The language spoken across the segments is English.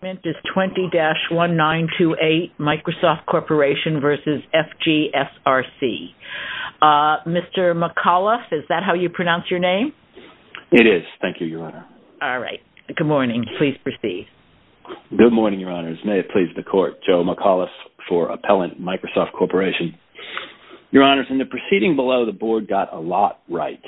Your argument is 20-1928 Microsoft Corporation v. FG SRC. Mr. McAuliffe, is that how you pronounce your name? It is. Thank you, Your Honor. All right. Good morning. Please proceed. Good morning, Your Honors. May it please the Court. Joe McAuliffe for Appellant, Microsoft Corporation. Your Honors, in the proceeding below, the Board got a lot right.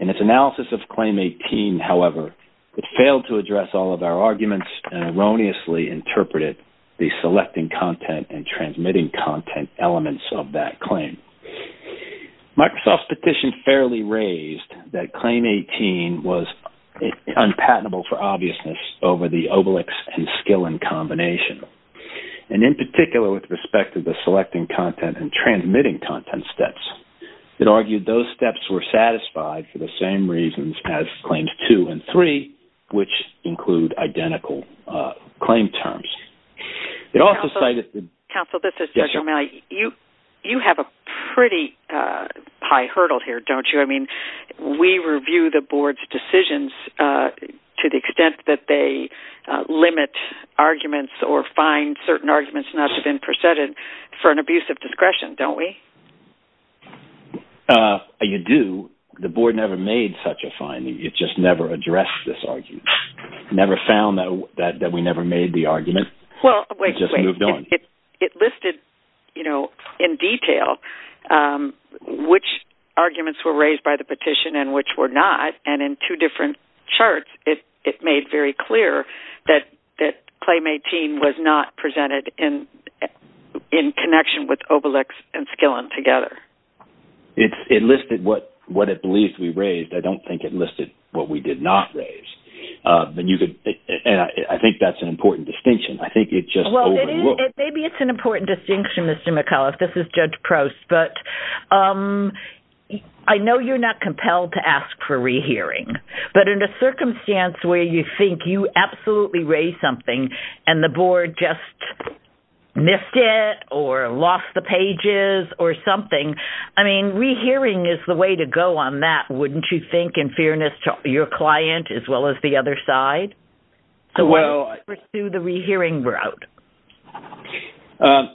In its analysis of Claim 18, however, it failed to address all of our arguments and erroneously interpreted the selecting content and transmitting content elements of that claim. Microsoft's petition fairly raised that Claim 18 was unpatentable for obviousness over the Obelix and Skillin combination. In particular, with respect to the selecting content and transmitting content steps, it argued those steps were satisfied for the same reasons as Claims 2 and 3, which include identical claim terms. Counsel, this is Judge O'Malley. You have a pretty high hurdle here, don't you? We review the Board's decisions to the extent that they limit arguments or find certain arguments not to have been preceded for an abuse of discretion, don't we? You do. The Board never made such a finding. It just never addressed this argument. It never found that we never made the argument. It listed in detail which arguments were raised by the petition and which were not. In two different charts, it made very clear that Claim 18 was not presented in connection with Obelix and Skillin together. It listed what it believed we raised. I don't think it listed what we did not raise. I think that's an important distinction. I think it just overlooked. Maybe it's an important distinction, Mr. McAuliffe. This is Judge Prost. I know you're not compelled to ask for rehearing, but in a circumstance where you think you absolutely raised something and the Board just missed it or lost the pages or something, I mean, rehearing is the way to go on that, wouldn't you think, in fairness to your client as well as the Board? Why not pursue the rehearing route?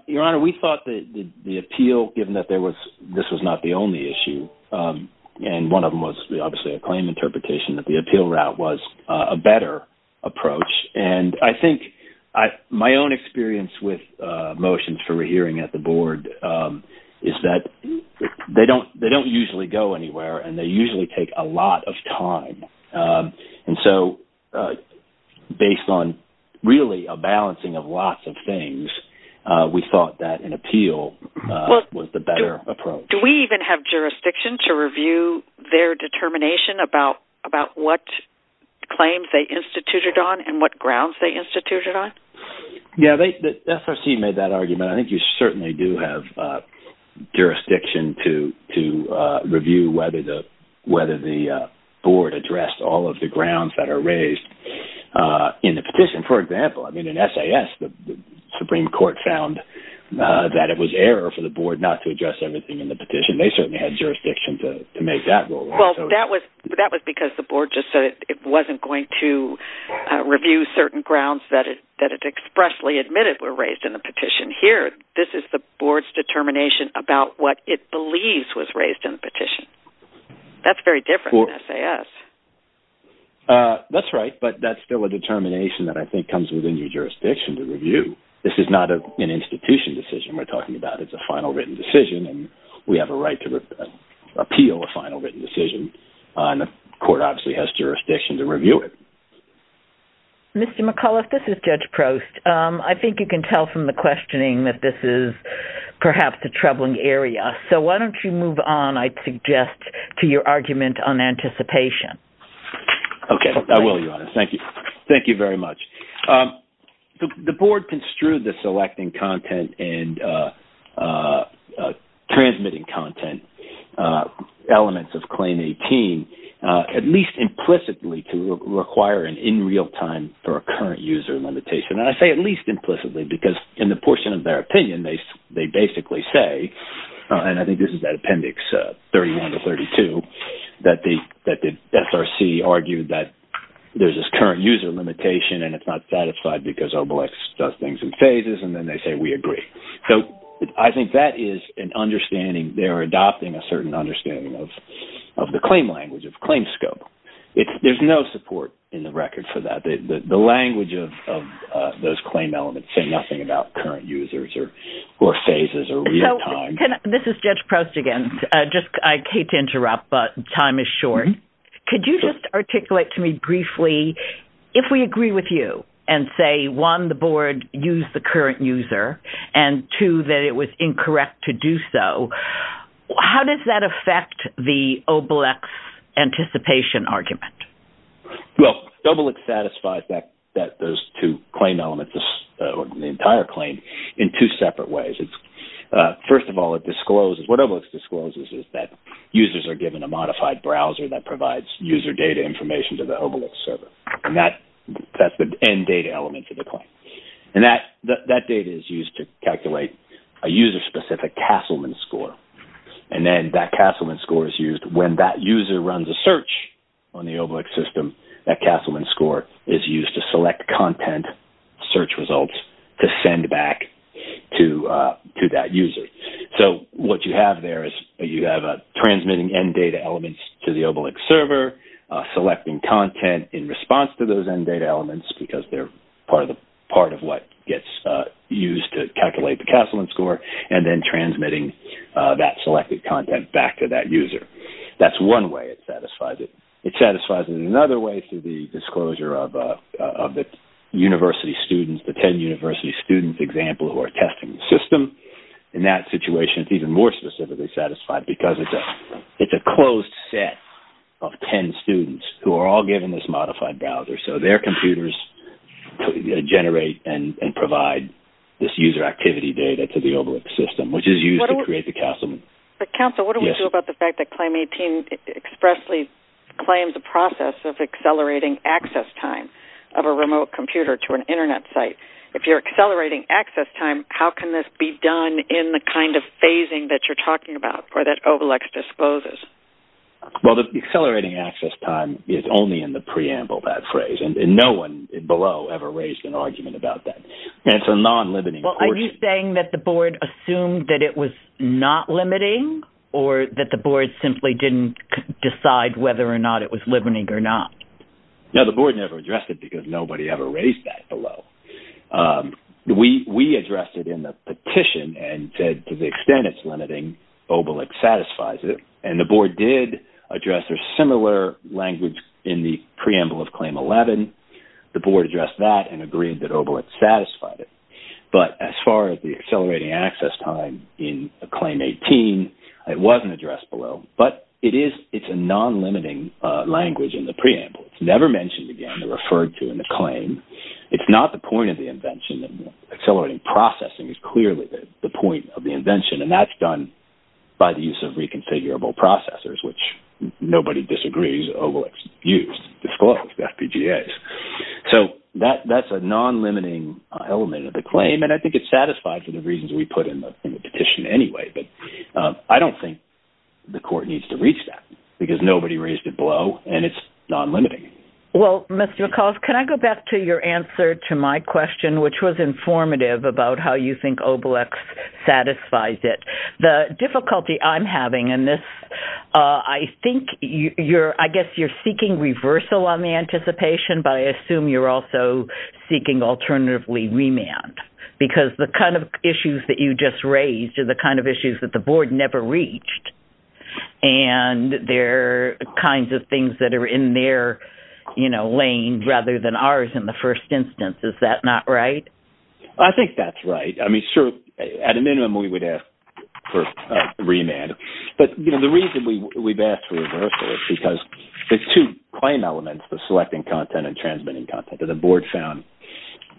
Your Honor, we thought that the appeal, given that this was not the only issue, and one of them was obviously a claim interpretation that the appeal route was a better approach. I think my own experience with motions for rehearing at the Board is that they don't usually go anywhere, and they usually take a lot of time. Based on really a balancing of lots of things, we thought that an appeal was the better approach. Do we even have jurisdiction to review their determination about what claims they instituted on and what grounds they instituted on? SRC made that argument. I think you certainly do have jurisdiction to review whether the Board addressed all of the grounds that are raised in the petition. For example, in SAS, the Supreme Court found that it was error for the Board not to address everything in the petition. They certainly had jurisdiction to make that rule. Well, that was because the Board just said it wasn't going to review certain grounds that it expressly admitted were raised in the petition. Here, this is the Board's determination about what it believes was raised in the petition. That's very different than SAS. That's right, but that's still a determination that I think comes within your jurisdiction to review. This is not an institution decision. We're talking about it's a final written decision, and we have a right to appeal a final written decision, and the Court obviously has jurisdiction to review it. Mr. McAuliffe, this is Judge Prost. I think you can tell from the questioning that this is perhaps a troubling area, so why don't you move on, I suggest, to your argument on anticipation. Okay, I will, Your Honor. Thank you. Thank you very much. The Board construed the selecting content and transmitting content elements of Claim 18 at least implicitly to require an in-real-time for a current user limitation. I say at least implicitly because in the portion of their opinion, they basically say, and I think this is that Appendix 31 to 32, that the SRC argued that there's this current user limitation, and it's not satisfied because OBLEX does things in phases, and then they say we agree. So I think that is an understanding. They're adopting a certain understanding of the claim language, of claim scope. There's no support in the record for that. The language of those claim elements say nothing about current users or phases or real time. This is Judge Prost again. I hate to interrupt, but time is short. Could you just articulate to me briefly, if we agree with you and say, one, the Board used the current user, and two, that it was incorrect to do so, how does that affect the OBLEX anticipation argument? Well, OBLEX satisfies those two claim elements, the entire claim, in two separate ways. First of all, what OBLEX discloses is that users are given a modified browser that provides user data information to the OBLEX server, and that's the end data element for the claim. And that data is used to calculate a user-specific Castleman score, and then that Castleman score is used when that user runs a search on the OBLEX system. That Castleman score is used to select content search results to send back to that user. So, what you have there is you have transmitting end data elements to the OBLEX server, selecting content in response to those end data elements because they're part of what gets used to calculate the Castleman score, and then transmitting that selected content back to that user. That's one way it satisfies it. It satisfies it another way through the disclosure of the university students, the 10 university student example who are testing the system. In that situation, it's even more specifically satisfied because it's a closed set of 10 students who are all given this modified browser. So, their computers generate and provide this user activity data to the OBLEX system, which is used to create the Castleman. But, counsel, what do we do about the fact that Claim 18 expressly claims a process of accelerating access time of a remote computer to an Internet site? If you're accelerating access time, how can this be done in the kind of phasing that you're talking about or that OBLEX disposes? Well, the accelerating access time is only in the preamble, that phrase, and no one below ever raised an argument about that. It's a non-limiting portion. Are you saying that the board assumed that it was not limiting or that the board simply didn't decide whether or not it was limiting or not? No, the board never addressed it because nobody ever raised that below. We addressed it in the petition and said to the extent it's limiting, OBLEX satisfies it. And the board did address a similar language in the preamble of Claim 11. The board addressed that and agreed that OBLEX satisfied it. But, as far as the accelerating access time in Claim 18, it wasn't addressed below. But, it's a non-limiting language in the preamble. It's never mentioned again or referred to in the claim. It's not the point of the invention. Accelerating processing is clearly the point of the invention, and that's done by the use of reconfigurable processors, which nobody disagrees OBLEX used. So, that's a non-limiting element of the claim, and I think it's satisfied for the reasons we put in the petition anyway. But, I don't think the court needs to reach that because nobody raised it below, and it's non-limiting. Well, Mr. McAuliffe, can I go back to your answer to my question, which was informative about how you think OBLEX satisfies it? The difficulty I'm having in this, I think you're, I guess you're seeking reversal on the anticipation, but I assume you're also seeking alternatively remand. Because the kind of issues that you just raised are the kind of issues that the board never reached, and they're kinds of things that are in their lane rather than ours in the first instance. Is that not right? I think that's right. I mean, sure, at a minimum, we would ask for remand. But, you know, the reason we've asked for reversal is because there's two claim elements, the selecting content and transmitting content that the board found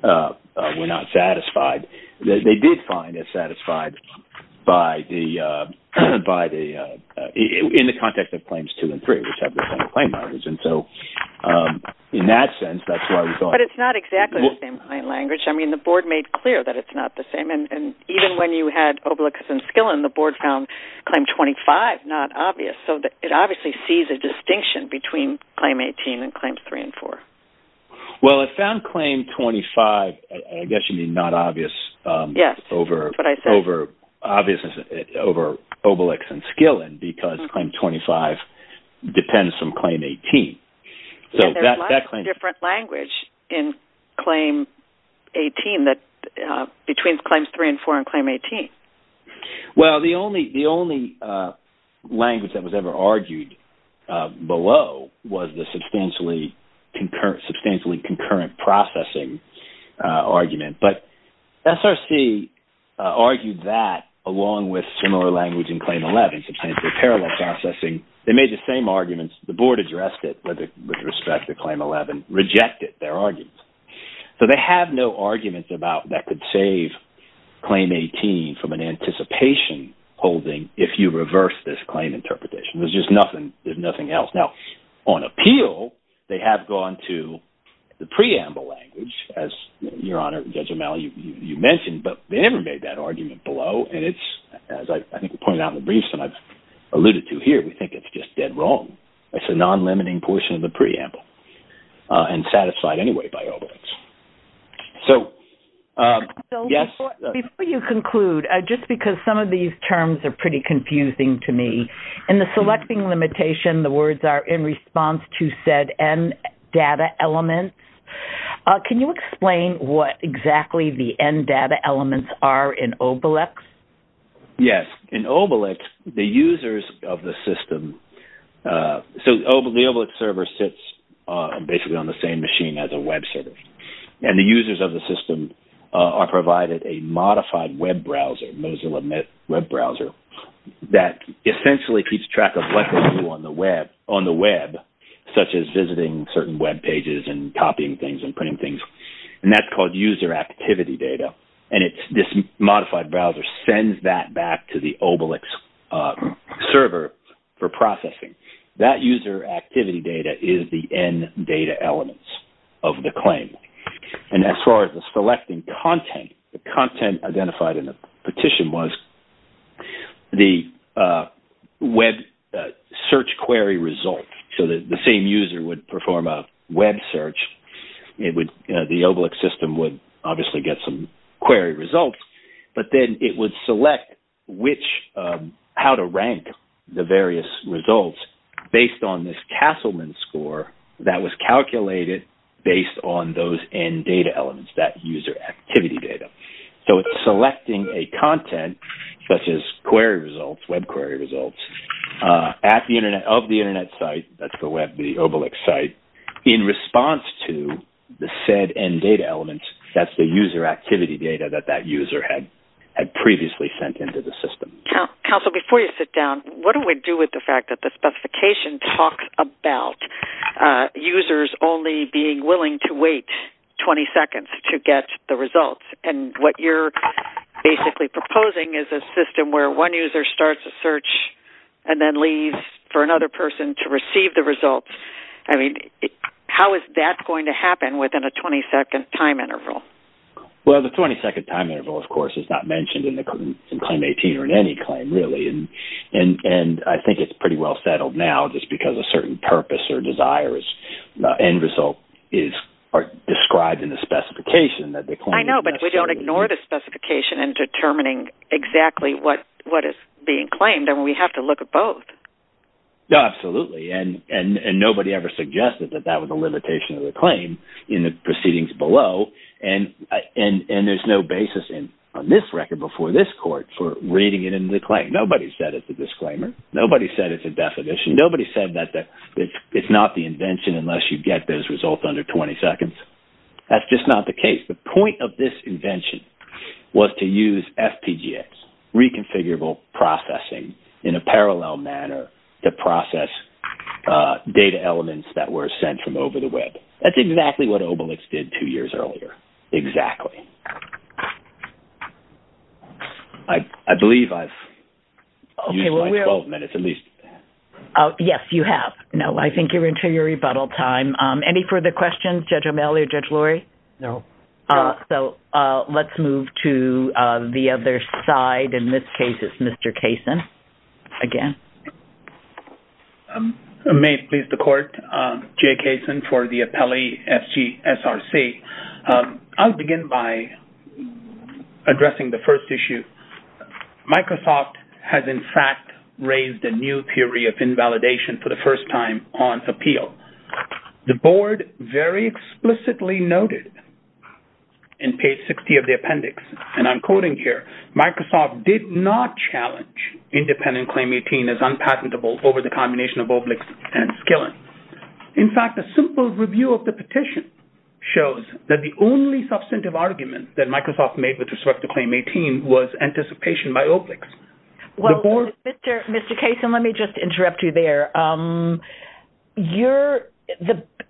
were not satisfied. They did find it satisfied in the context of claims two and three, which have the same claim margins. And so, in that sense, that's why we thought… I mean, the board made clear that it's not the same. And even when you had OBLEX and Skillen, the board found Claim 25 not obvious. So it obviously sees a distinction between Claim 18 and Claims 3 and 4. Well, it found Claim 25, I guess you mean, not obvious over OBLEX and Skillen because Claim 25 depends on Claim 18. There's a lot of different language in Claim 18 between Claims 3 and 4 and Claim 18. Well, the only language that was ever argued below was the substantially concurrent processing argument. But SRC argued that along with similar language in Claim 11, substantially parallel processing. They made the same arguments. The board addressed it with respect to Claim 11, rejected their arguments. So they have no arguments about that could save Claim 18 from an anticipation holding if you reverse this claim interpretation. There's just nothing else. Now, on appeal, they have gone to the preamble language, as Your Honor, Judge O'Malley, you mentioned. But they never made that argument below. And it's, as I think we pointed out in the briefs and I've alluded to here, we think it's just dead wrong. It's a non-limiting portion of the preamble and satisfied anyway by OBLEX. Before you conclude, just because some of these terms are pretty confusing to me, in the selecting limitation, the words are in response to said end data elements. Can you explain what exactly the end data elements are in OBLEX? Yes. In OBLEX, the users of the system – so the OBLEX server sits basically on the same machine as a web server. And the users of the system are provided a modified web browser, Mozilla Web Browser, that essentially keeps track of what they do on the web, such as visiting certain web pages and copying things and printing things. And that's called user activity data. And this modified browser sends that back to the OBLEX server for processing. That user activity data is the end data elements of the claim. And as far as the selecting content, the content identified in the petition was the web search query result. So, the same user would perform a web search. The OBLEX system would obviously get some query results. But then it would select how to rank the various results based on this Castleman score that was calculated based on those end data elements, that user activity data. So, it's selecting a content, such as query results, web query results, of the Internet site – that's the OBLEX site – in response to the said end data elements. That's the user activity data that that user had previously sent into the system. Counsel, before you sit down, what do we do with the fact that the specification talks about users only being willing to wait 20 seconds to get the results? And what you're basically proposing is a system where one user starts a search and then leaves for another person to receive the results. I mean, how is that going to happen within a 20-second time interval? Well, the 20-second time interval, of course, is not mentioned in Claim 18 or in any claim, really. And I think it's pretty well settled now just because a certain purpose or desire or end result is described in the specification. I know, but we don't ignore the specification in determining exactly what is being claimed. And we have to look at both. Absolutely. And nobody ever suggested that that was a limitation of the claim in the proceedings below. And there's no basis on this record before this court for reading it in the claim. Nobody said it's a disclaimer. Nobody said it's a definition. Nobody said that it's not the invention unless you get those results under 20 seconds. That's just not the case. The point of this invention was to use FPGAs, reconfigurable processing, in a parallel manner to process data elements that were sent from over the web. That's exactly what Obelix did two years earlier. Exactly. I believe I've used my 12 minutes at least. Yes, you have. No, I think you're into your rebuttal time. Any further questions, Judge O'Malley or Judge Lurie? No. So, let's move to the other side. In this case, it's Mr. Kaysen again. May it please the court. Jay Kaysen for the appellee, FGSRC. I'll begin by addressing the first issue. Microsoft has, in fact, raised a new theory of invalidation for the first time on appeal. The board very explicitly noted in page 60 of the appendix, and I'm quoting here, Microsoft did not challenge independent Claim 18 as unpatentable over the combination of Obelix and Skillen. In fact, a simple review of the petition shows that the only substantive argument that Microsoft made with respect to Claim 18 was anticipation by Obelix. Well, Mr. Kaysen, let me just interrupt you there.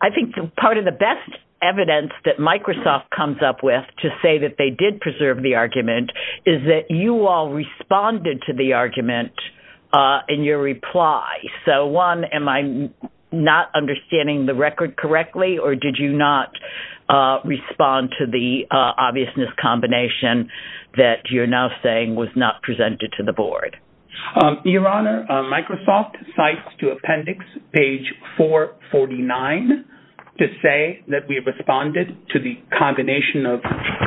I think part of the best evidence that Microsoft comes up with to say that they did preserve the argument is that you all responded to the argument in your reply. So, one, am I not understanding the record correctly, or did you not respond to the obviousness combination that you're now saying was not presented to the board? Your Honor, Microsoft cites to appendix page 449 to say that we responded to the combination of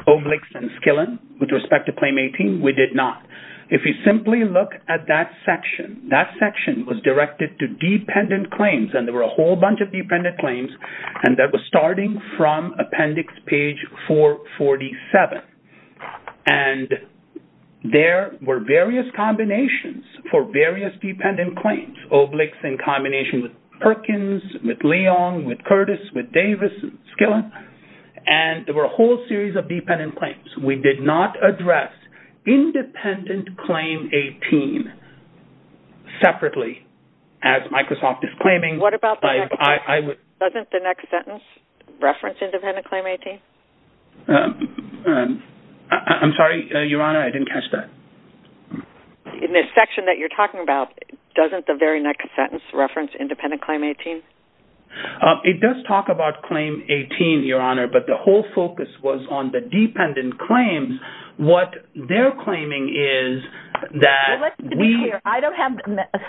Obelix and Skillen with respect to Claim 18. We did not. If you simply look at that section, that section was directed to dependent claims, and there were a whole bunch of dependent claims, and that was starting from appendix page 447. And there were various combinations for various dependent claims, Obelix in combination with Perkins, with Leon, with Curtis, with Davis, and Skillen. And there were a whole series of dependent claims. We did not address independent Claim 18 separately, as Microsoft is claiming. What about the next sentence? Doesn't the next sentence reference independent Claim 18? I'm sorry, Your Honor, I didn't catch that. In this section that you're talking about, doesn't the very next sentence reference independent Claim 18? It does talk about Claim 18, Your Honor, but the whole focus was on the dependent claims. What they're claiming is that we... Let's be clear. I don't have...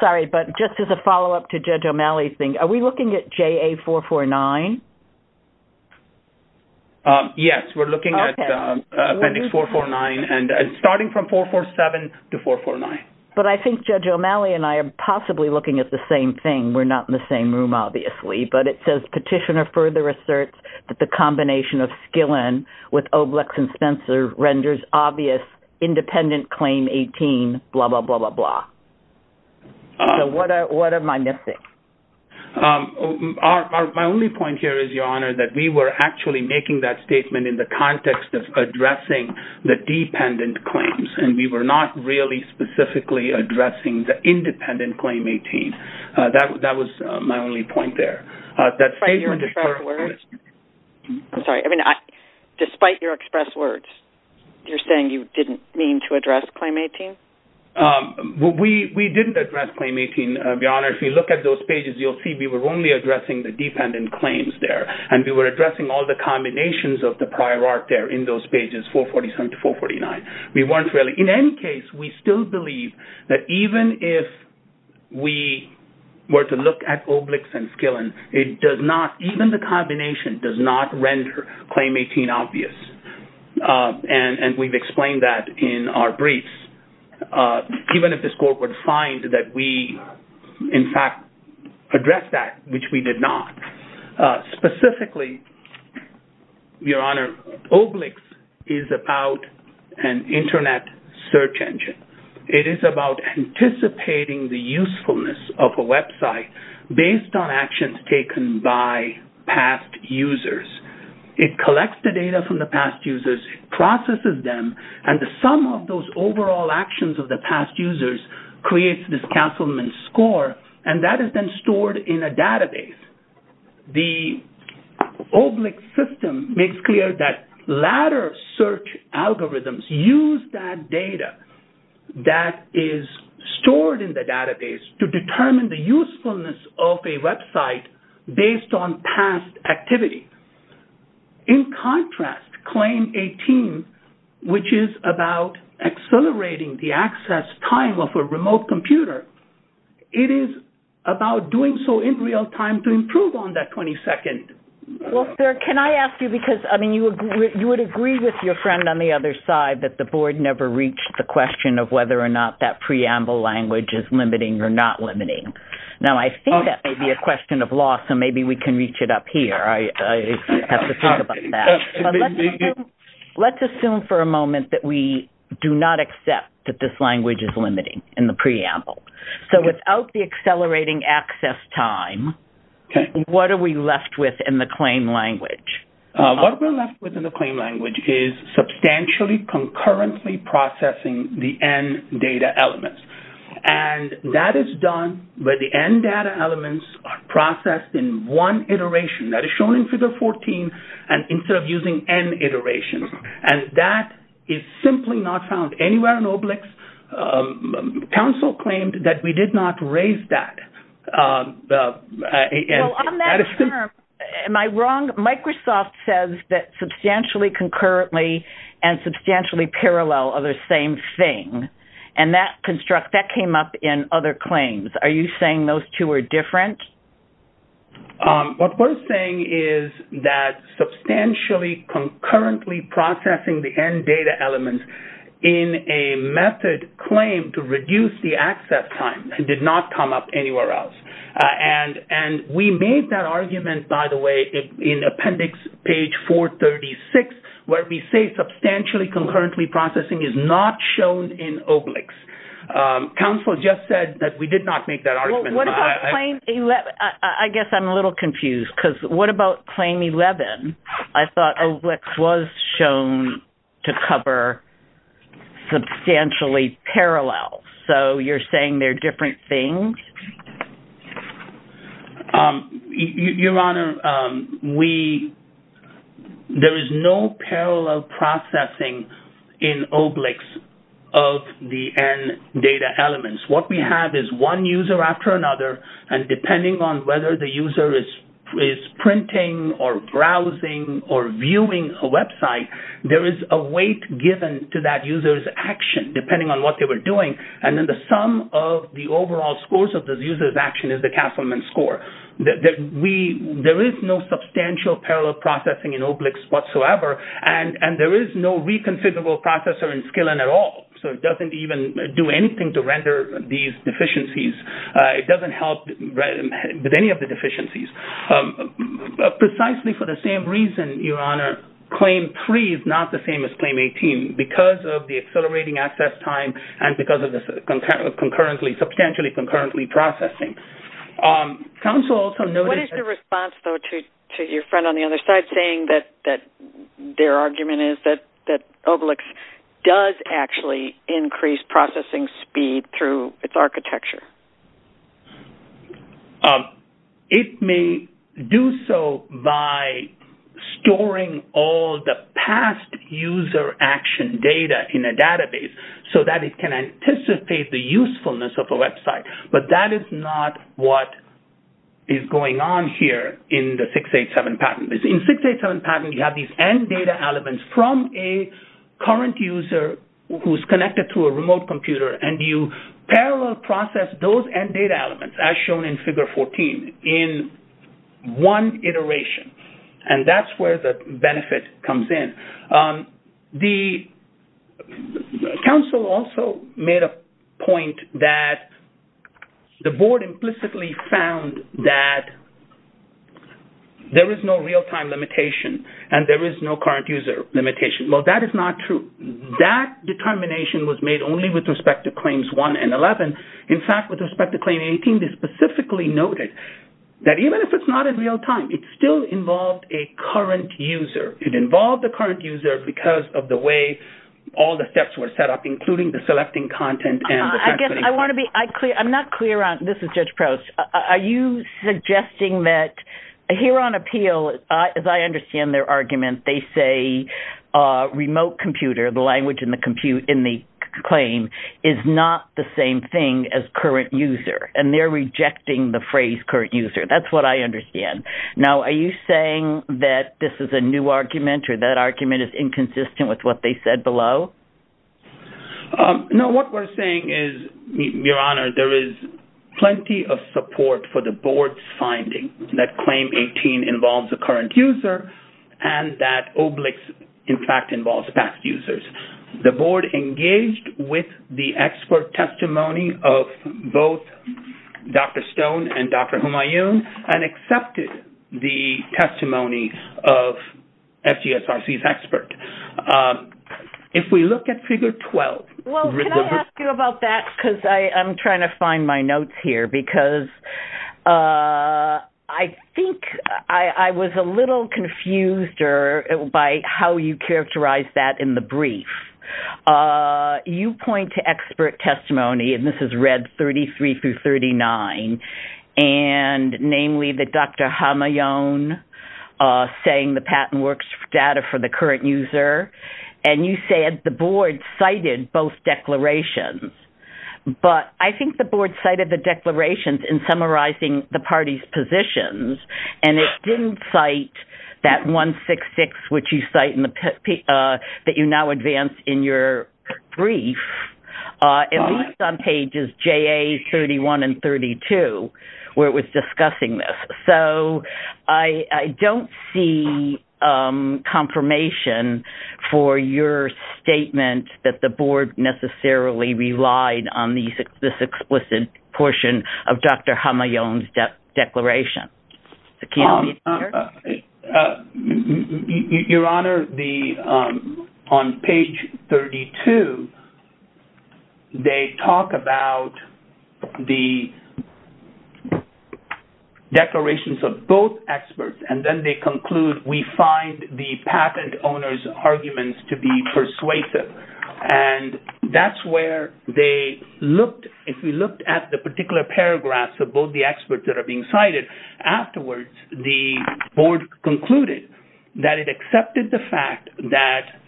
Sorry, but just as a follow-up to Judge O'Malley's thing, are we looking at JA449? Yes, we're looking at appendix 449 and starting from 447 to 449. But I think Judge O'Malley and I are possibly looking at the same thing. We're not in the same room, obviously. But it says, Petitioner further asserts that the combination of Skillen with Obelix and Spencer renders obvious independent Claim 18, blah, blah, blah, blah, blah. So what am I missing? My only point here is, Your Honor, that we were actually making that statement in the context of addressing the dependent claims. And we were not really specifically addressing the independent Claim 18. That was my only point there. Despite your express words? I'm sorry. I mean, despite your express words, you're saying you didn't mean to address Claim 18? We didn't address Claim 18, Your Honor. If you look at those pages, you'll see we were only addressing the dependent claims there. And we were addressing all the combinations of the prior art there in those pages, 447 to 449. In any case, we still believe that even if we were to look at Obelix and Skillen, even the combination does not render Claim 18 obvious. And we've explained that in our briefs. Even if this Court would find that we, in fact, addressed that, which we did not. Specifically, Your Honor, Obelix is about an Internet search engine. It is about anticipating the usefulness of a website based on actions taken by past users. It collects the data from the past users, processes them, and the sum of those overall actions of the past users creates this cancelment score. And that is then stored in a database. The Obelix system makes clear that latter search algorithms use that data that is stored in the database to determine the usefulness of a website based on past activity. In contrast, Claim 18, which is about accelerating the access time of a remote computer, it is about doing so in real time to improve on that 22nd. Well, sir, can I ask you because, I mean, you would agree with your friend on the other side that the Board never reached the question of whether or not that preamble language is limiting or not limiting. Now I think that may be a question of law, so maybe we can reach it up here. I have to think about that. But let's assume for a moment that we do not accept that this language is limiting in the preamble. So without the accelerating access time, what are we left with in the claim language? What we're left with in the claim language is substantially concurrently processing the end data elements. And that is done where the end data elements are processed in one iteration. That is shown in Figure 14 instead of using n iterations. And that is simply not found anywhere in Obelix. Council claimed that we did not raise that. Am I wrong? Microsoft says that substantially concurrently and substantially parallel are the same thing. And that came up in other claims. Are you saying those two are different? What we're saying is that substantially concurrently processing the end data elements in a method claimed to reduce the access time did not come up anywhere else. And we made that argument, by the way, in Appendix Page 436, where we say substantially concurrently processing is not shown in Obelix. Council just said that we did not make that argument. I guess I'm a little confused because what about Claim 11? I thought Obelix was shown to cover substantially parallel. So you're saying they're different things? Your Honor, there is no parallel processing in Obelix of the end data elements. What we have is one user after another. And depending on whether the user is printing or browsing or viewing a website, there is a weight given to that user's action depending on what they were doing. And then the sum of the overall scores of the user's action is the Castleman score. There is no substantial parallel processing in Obelix whatsoever, and there is no reconfigurable processor in Skillen at all. So it doesn't even do anything to render these deficiencies. It doesn't help with any of the deficiencies. Precisely for the same reason, Your Honor, Claim 3 is not the same as Claim 18 because of the accelerating access time and because of the substantially concurrently processing. What is the response, though, to your friend on the other side saying that their argument is that Obelix does actually increase processing speed through its architecture? It may do so by storing all the past user action data in a database so that it can anticipate the usefulness of a website. But that is not what is going on here in the 687 patent. In the 687 patent, you have these end data elements from a current user who is connected to a remote computer, and you parallel process those end data elements, as shown in Figure 14, in one iteration. And that's where the benefit comes in. The counsel also made a point that the board implicitly found that there is no real-time limitation and there is no current user limitation. Well, that is not true. That determination was made only with respect to Claims 1 and 11. In fact, with respect to Claim 18, they specifically noted that even if it's not in real time, it still involved a current user. It involved a current user because of the way all the steps were set up, including the selecting content and the translating content. I guess I want to be – I'm not clear on – this is Judge Proust. Are you suggesting that here on appeal, as I understand their argument, they say remote computer, the language in the claim, is not the same thing as current user, and they're rejecting the phrase current user. That's what I understand. Now, are you saying that this is a new argument or that argument is inconsistent with what they said below? No, what we're saying is, Your Honor, there is plenty of support for the board's finding that Claim 18 involves a current user and that Oblix, in fact, involves past users. The board engaged with the expert testimony of both Dr. Stone and Dr. Humayun and accepted the testimony of FGSRC's expert. If we look at Figure 12… Well, can I ask you about that because I'm trying to find my notes here because I think I was a little confused by how you characterized that in the brief. You point to expert testimony, and this is read 33 through 39, and namely that Dr. Humayun saying the patent works data for the current user, and you said the board cited both declarations, but I think the board cited the declarations in summarizing the parties' positions, and it didn't cite that 166 that you now advance in your brief, at least on pages JA31 and 32, where it was discussing this. So I don't see confirmation for your statement that the board necessarily relied on this explicit portion of Dr. Humayun's declaration. Your Honor, on page 32, they talk about the declarations of both experts, and then they conclude, we find the patent owner's arguments to be persuasive, and that's where they looked. If we looked at the particular paragraphs of both the experts that are being cited, afterwards, the board concluded that it accepted the fact that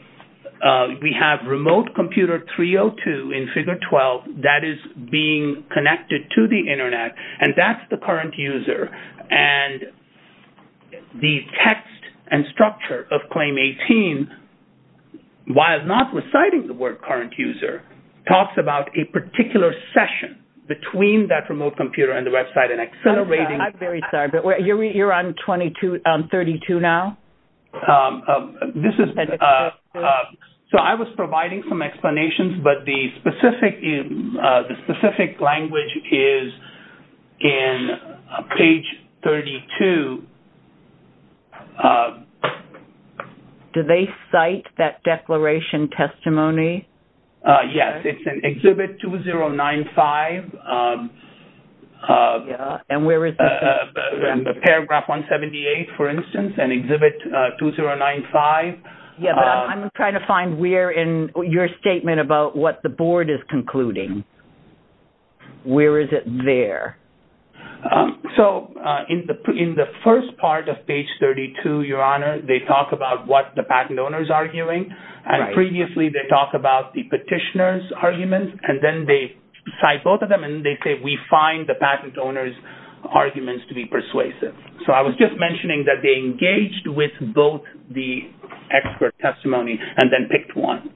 we have remote computer 302 in Figure 12 that is being connected to the Internet, and that's the current user, and the text and structure of Claim 18, while not reciting the word current user, talks about a particular session between that remote computer and the Web site and accelerating... I'm very sorry, but you're on 32 now? This is... So I was providing some explanations, but the specific language is in page 32. Did they cite that declaration testimony? Yes, it's in Exhibit 2095. And where is it? Paragraph 178, for instance, and Exhibit 2095. Yes, but I'm trying to find where in your statement about what the board is concluding. Where is it there? So in the first part of page 32, Your Honor, they talk about what the patent owner is arguing, and previously they talked about the petitioner's arguments, and then they cite both of them, and they say we find the patent owner's arguments to be persuasive. So I was just mentioning that they engaged with both the expert testimonies and then picked one,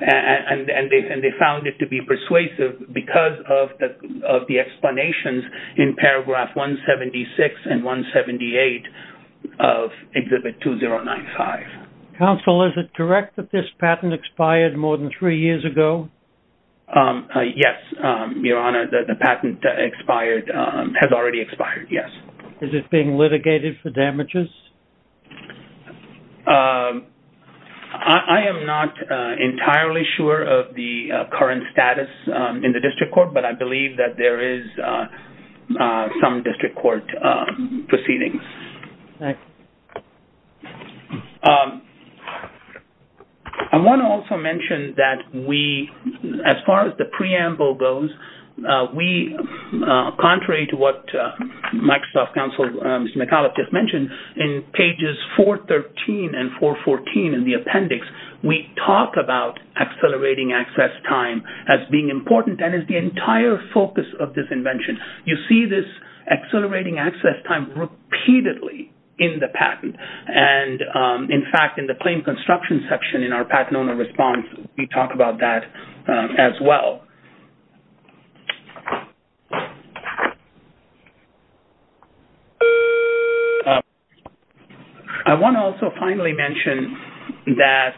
and they found it to be persuasive because of the explanations in paragraph 176 and 178 of Exhibit 2095. Counsel, is it correct that this patent expired more than three years ago? Yes, Your Honor, the patent expired, has already expired, yes. Is it being litigated for damages? I am not entirely sure of the current status in the district court, but I believe that there is some district court proceedings. Okay. I want to also mention that we, as far as the preamble goes, we, contrary to what Microsoft Counsel Mr. McAuliffe just mentioned, in pages 413 and 414 in the appendix, we talk about accelerating access time as being important and as the entire focus of this invention. You see this accelerating access time repeatedly in the patent. And, in fact, in the claim construction section in our patent owner response, we talk about that as well. I want to also finally mention that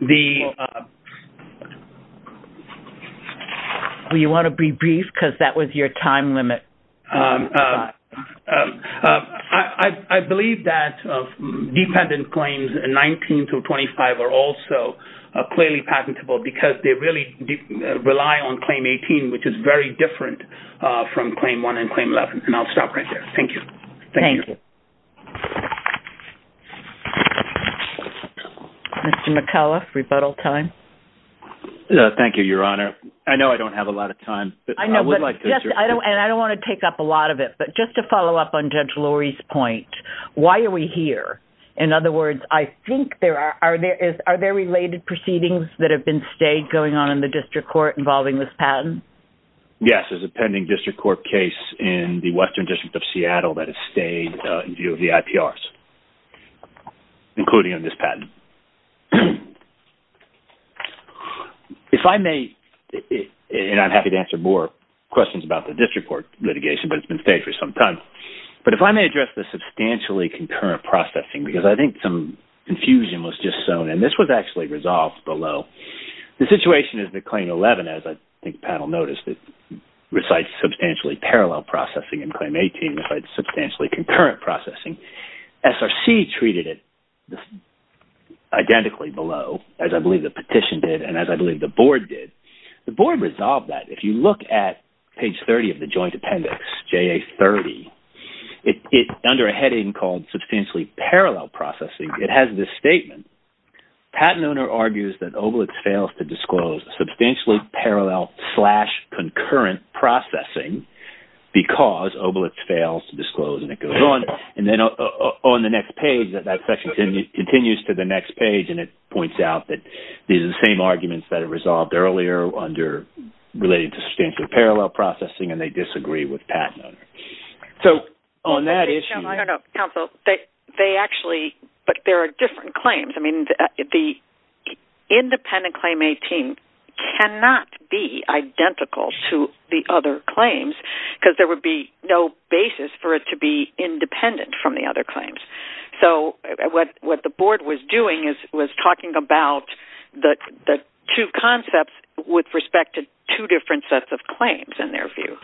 the... Do you want to be brief because that was your time limit? I believe that dependent claims 19 to 25 are also clearly patentable because they really rely on Claim 18, which is very different from Claim 1 and Claim 11. And I'll stop right there. Thank you. Thank you. Mr. McAuliffe, rebuttal time. Thank you, Your Honor. I know I don't have a lot of time, but I would like to... And I don't want to take up a lot of it, but just to follow up on Judge Lori's point, why are we here? In other words, I think there are... Are there related proceedings that have been stayed going on in the District Court involving this patent? Yes, there's a pending District Court case in the Western District of Seattle that has stayed in view of the IPRs, including on this patent. If I may, and I'm happy to answer more questions about the District Court litigation, but it's been stayed for some time. But if I may address the substantially concurrent processing, because I think some confusion was just sown, and this was actually resolved below. The situation is that Claim 11, as I think the panel noticed, recites substantially parallel processing, and Claim 18 recites substantially concurrent processing. SRC treated it identically below, as I believe the petition did, and as I believe the board did. The board resolved that. If you look at page 30 of the joint appendix, JA30, under a heading called substantially parallel processing, it has this statement. Patent owner argues that Obelix fails to disclose substantially parallel slash concurrent processing because Obelix fails to disclose, and it goes on. And then on the next page, that section continues to the next page, and it points out that these are the same arguments that are resolved earlier under related to substantially parallel processing, and they disagree with patent owner. So, on that issue... I mean, the independent Claim 18 cannot be identical to the other claims, because there would be no basis for it to be independent from the other claims. So, what the board was doing was talking about the two concepts with respect to two different sets of claims, in their view.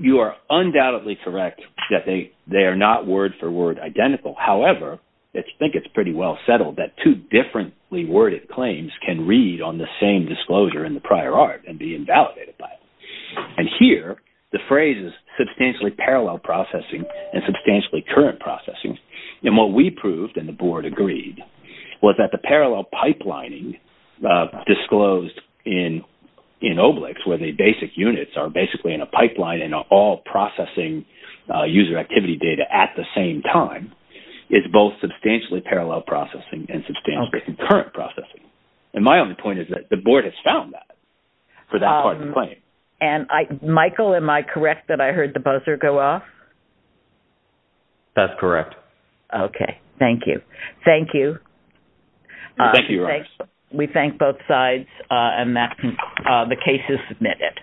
You are undoubtedly correct that they are not word for word identical. However, I think it's pretty well settled that two differently worded claims can read on the same disclosure in the prior art and be invalidated by it. And here, the phrase is substantially parallel processing and substantially current processing. And what we proved, and the board agreed, was that the parallel pipelining disclosed in Obelix, where the basic units are basically in a pipeline and are all processing user activity data at the same time, is both substantially parallel processing and substantially current processing. And my only point is that the board has found that for that part of the claim. Michael, am I correct that I heard the buzzer go off? That's correct. Okay. Thank you. Thank you. Thank you, Your Honors. We thank both sides, and the case is submitted.